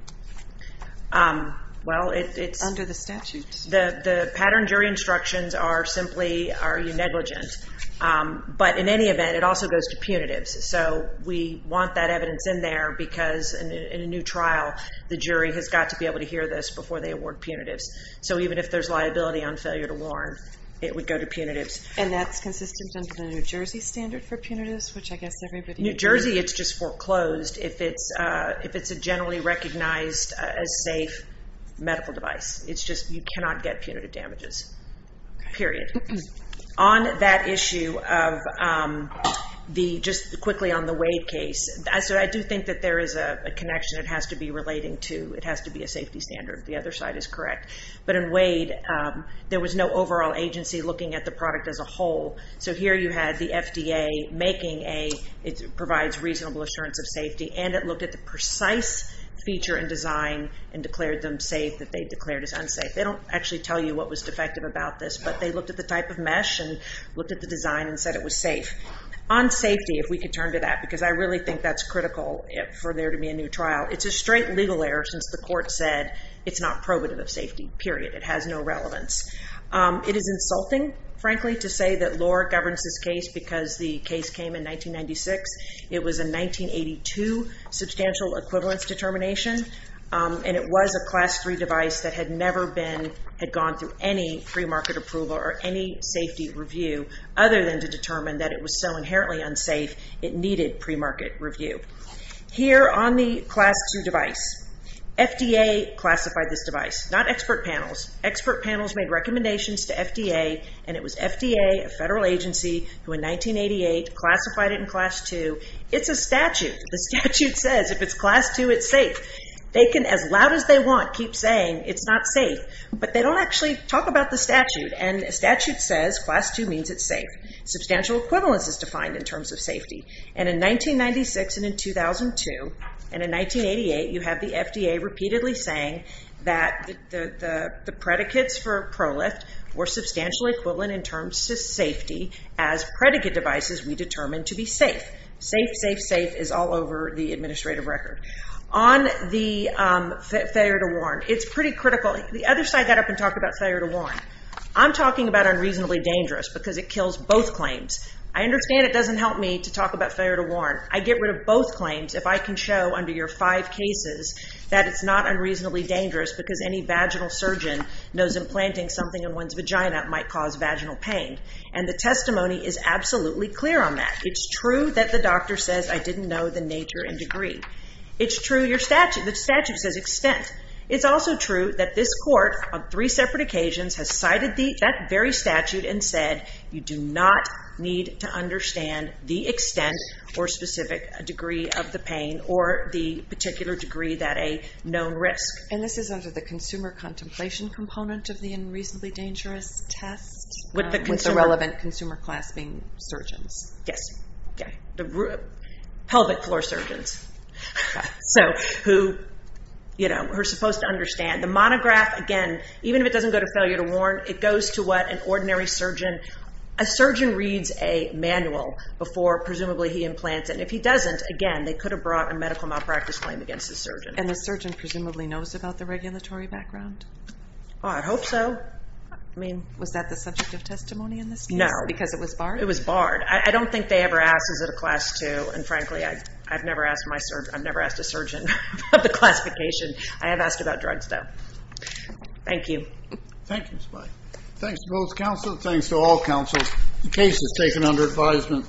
Well, it's... Under the statute. The pattern jury instructions are simply, are you negligent? But in any event, it also goes to punitives. So we want that evidence in there because in a new trial, the jury has got to be able to hear this before they award punitives. So even if there's liability on failure to warn, it would go to punitives. And that's consistent under the New Jersey standard for punitives, which I guess everybody... New Jersey, it's just foreclosed if it's a generally recognized as safe medical device. It's just you cannot get punitive damages. Period. On that issue of the... Just quickly on the Wade case. So I do think that there is a connection and it has to be relating to... It has to be a safety standard. The other side is correct. But in Wade, there was no overall agency looking at the product as a whole. So here you had the FDA making a... It provides reasonable assurance of safety and it looked at the precise feature and design and declared them safe that they declared as unsafe. They don't actually tell you what was defective about this, but they looked at the type of mesh and looked at the design and said it was safe. On safety, if we could turn to that, because I really think that's critical for there to be a new trial. It's a straight legal error since the court said it's not probative of safety. Period. It has no relevance. It is insulting, frankly, to say that Lohr governs this case because the case came in 1996. It was a 1982 substantial equivalence determination and it was a class three device that had never been... Had gone through any pre-market approval or any safety review other than to determine that it was so inherently unsafe it needed pre-market review. Here on the class two device, FDA classified this device, not expert panels. Expert panels made recommendations to FDA and it was FDA, a federal agency, who in 1988 classified it in class two. It's a statute. The statute says if it's class two, it's safe. They can, as loud as they want, keep saying it's not safe, but they don't actually talk about the statute and the statute says class two means it's safe. Substantial equivalence is defined in terms of safety and in 1996 and in 2002 and in 1988, you have the FDA repeatedly saying that the predicates for ProLift were substantially equivalent in terms of safety as predicate devices we determined to be safe. Safe, safe, safe is all over the administrative record. On the failure to warn, it's pretty critical. The other side got up and talked about failure to warn. I'm talking about unreasonably dangerous because it kills both claims. I understand it doesn't help me to talk about failure to warn. I get rid of both claims if I can show under your five cases that it's not unreasonably dangerous because any vaginal surgeon knows implanting something in one's vagina might cause vaginal pain and the testimony is absolutely clear on that. It's true that the doctor says I didn't know the nature and degree. It's true your statute. The statute says extent. It's also true that this court on three separate occasions has cited that very statute and said you do not need to understand the extent or specific degree of the pain or the particular degree that a known risk. This is under the consumer contemplation component of the unreasonably dangerous test with the relevant consumer clasping surgeons. Yes. The pelvic floor surgeons who are supposed to understand. The monograph, again, even if it doesn't go to failure to warn, it goes to what an ordinary surgeon and a surgeon reads a manual before presumably he implants and if he doesn't, again, they could have brought a medical malpractice claim against the surgeon. And the surgeon presumably knows about the regulatory background? I hope so. Was that the subject of testimony in this case? No. Because it was barred? It was barred. I don't think they ever asked is it a class two and frankly I've never asked a surgeon about the classification. I have asked about drugs, though. Thank you. Thank you, Ms. Blight. Thanks to both counsel. Thanks to all counsel. The case is taken under advisement.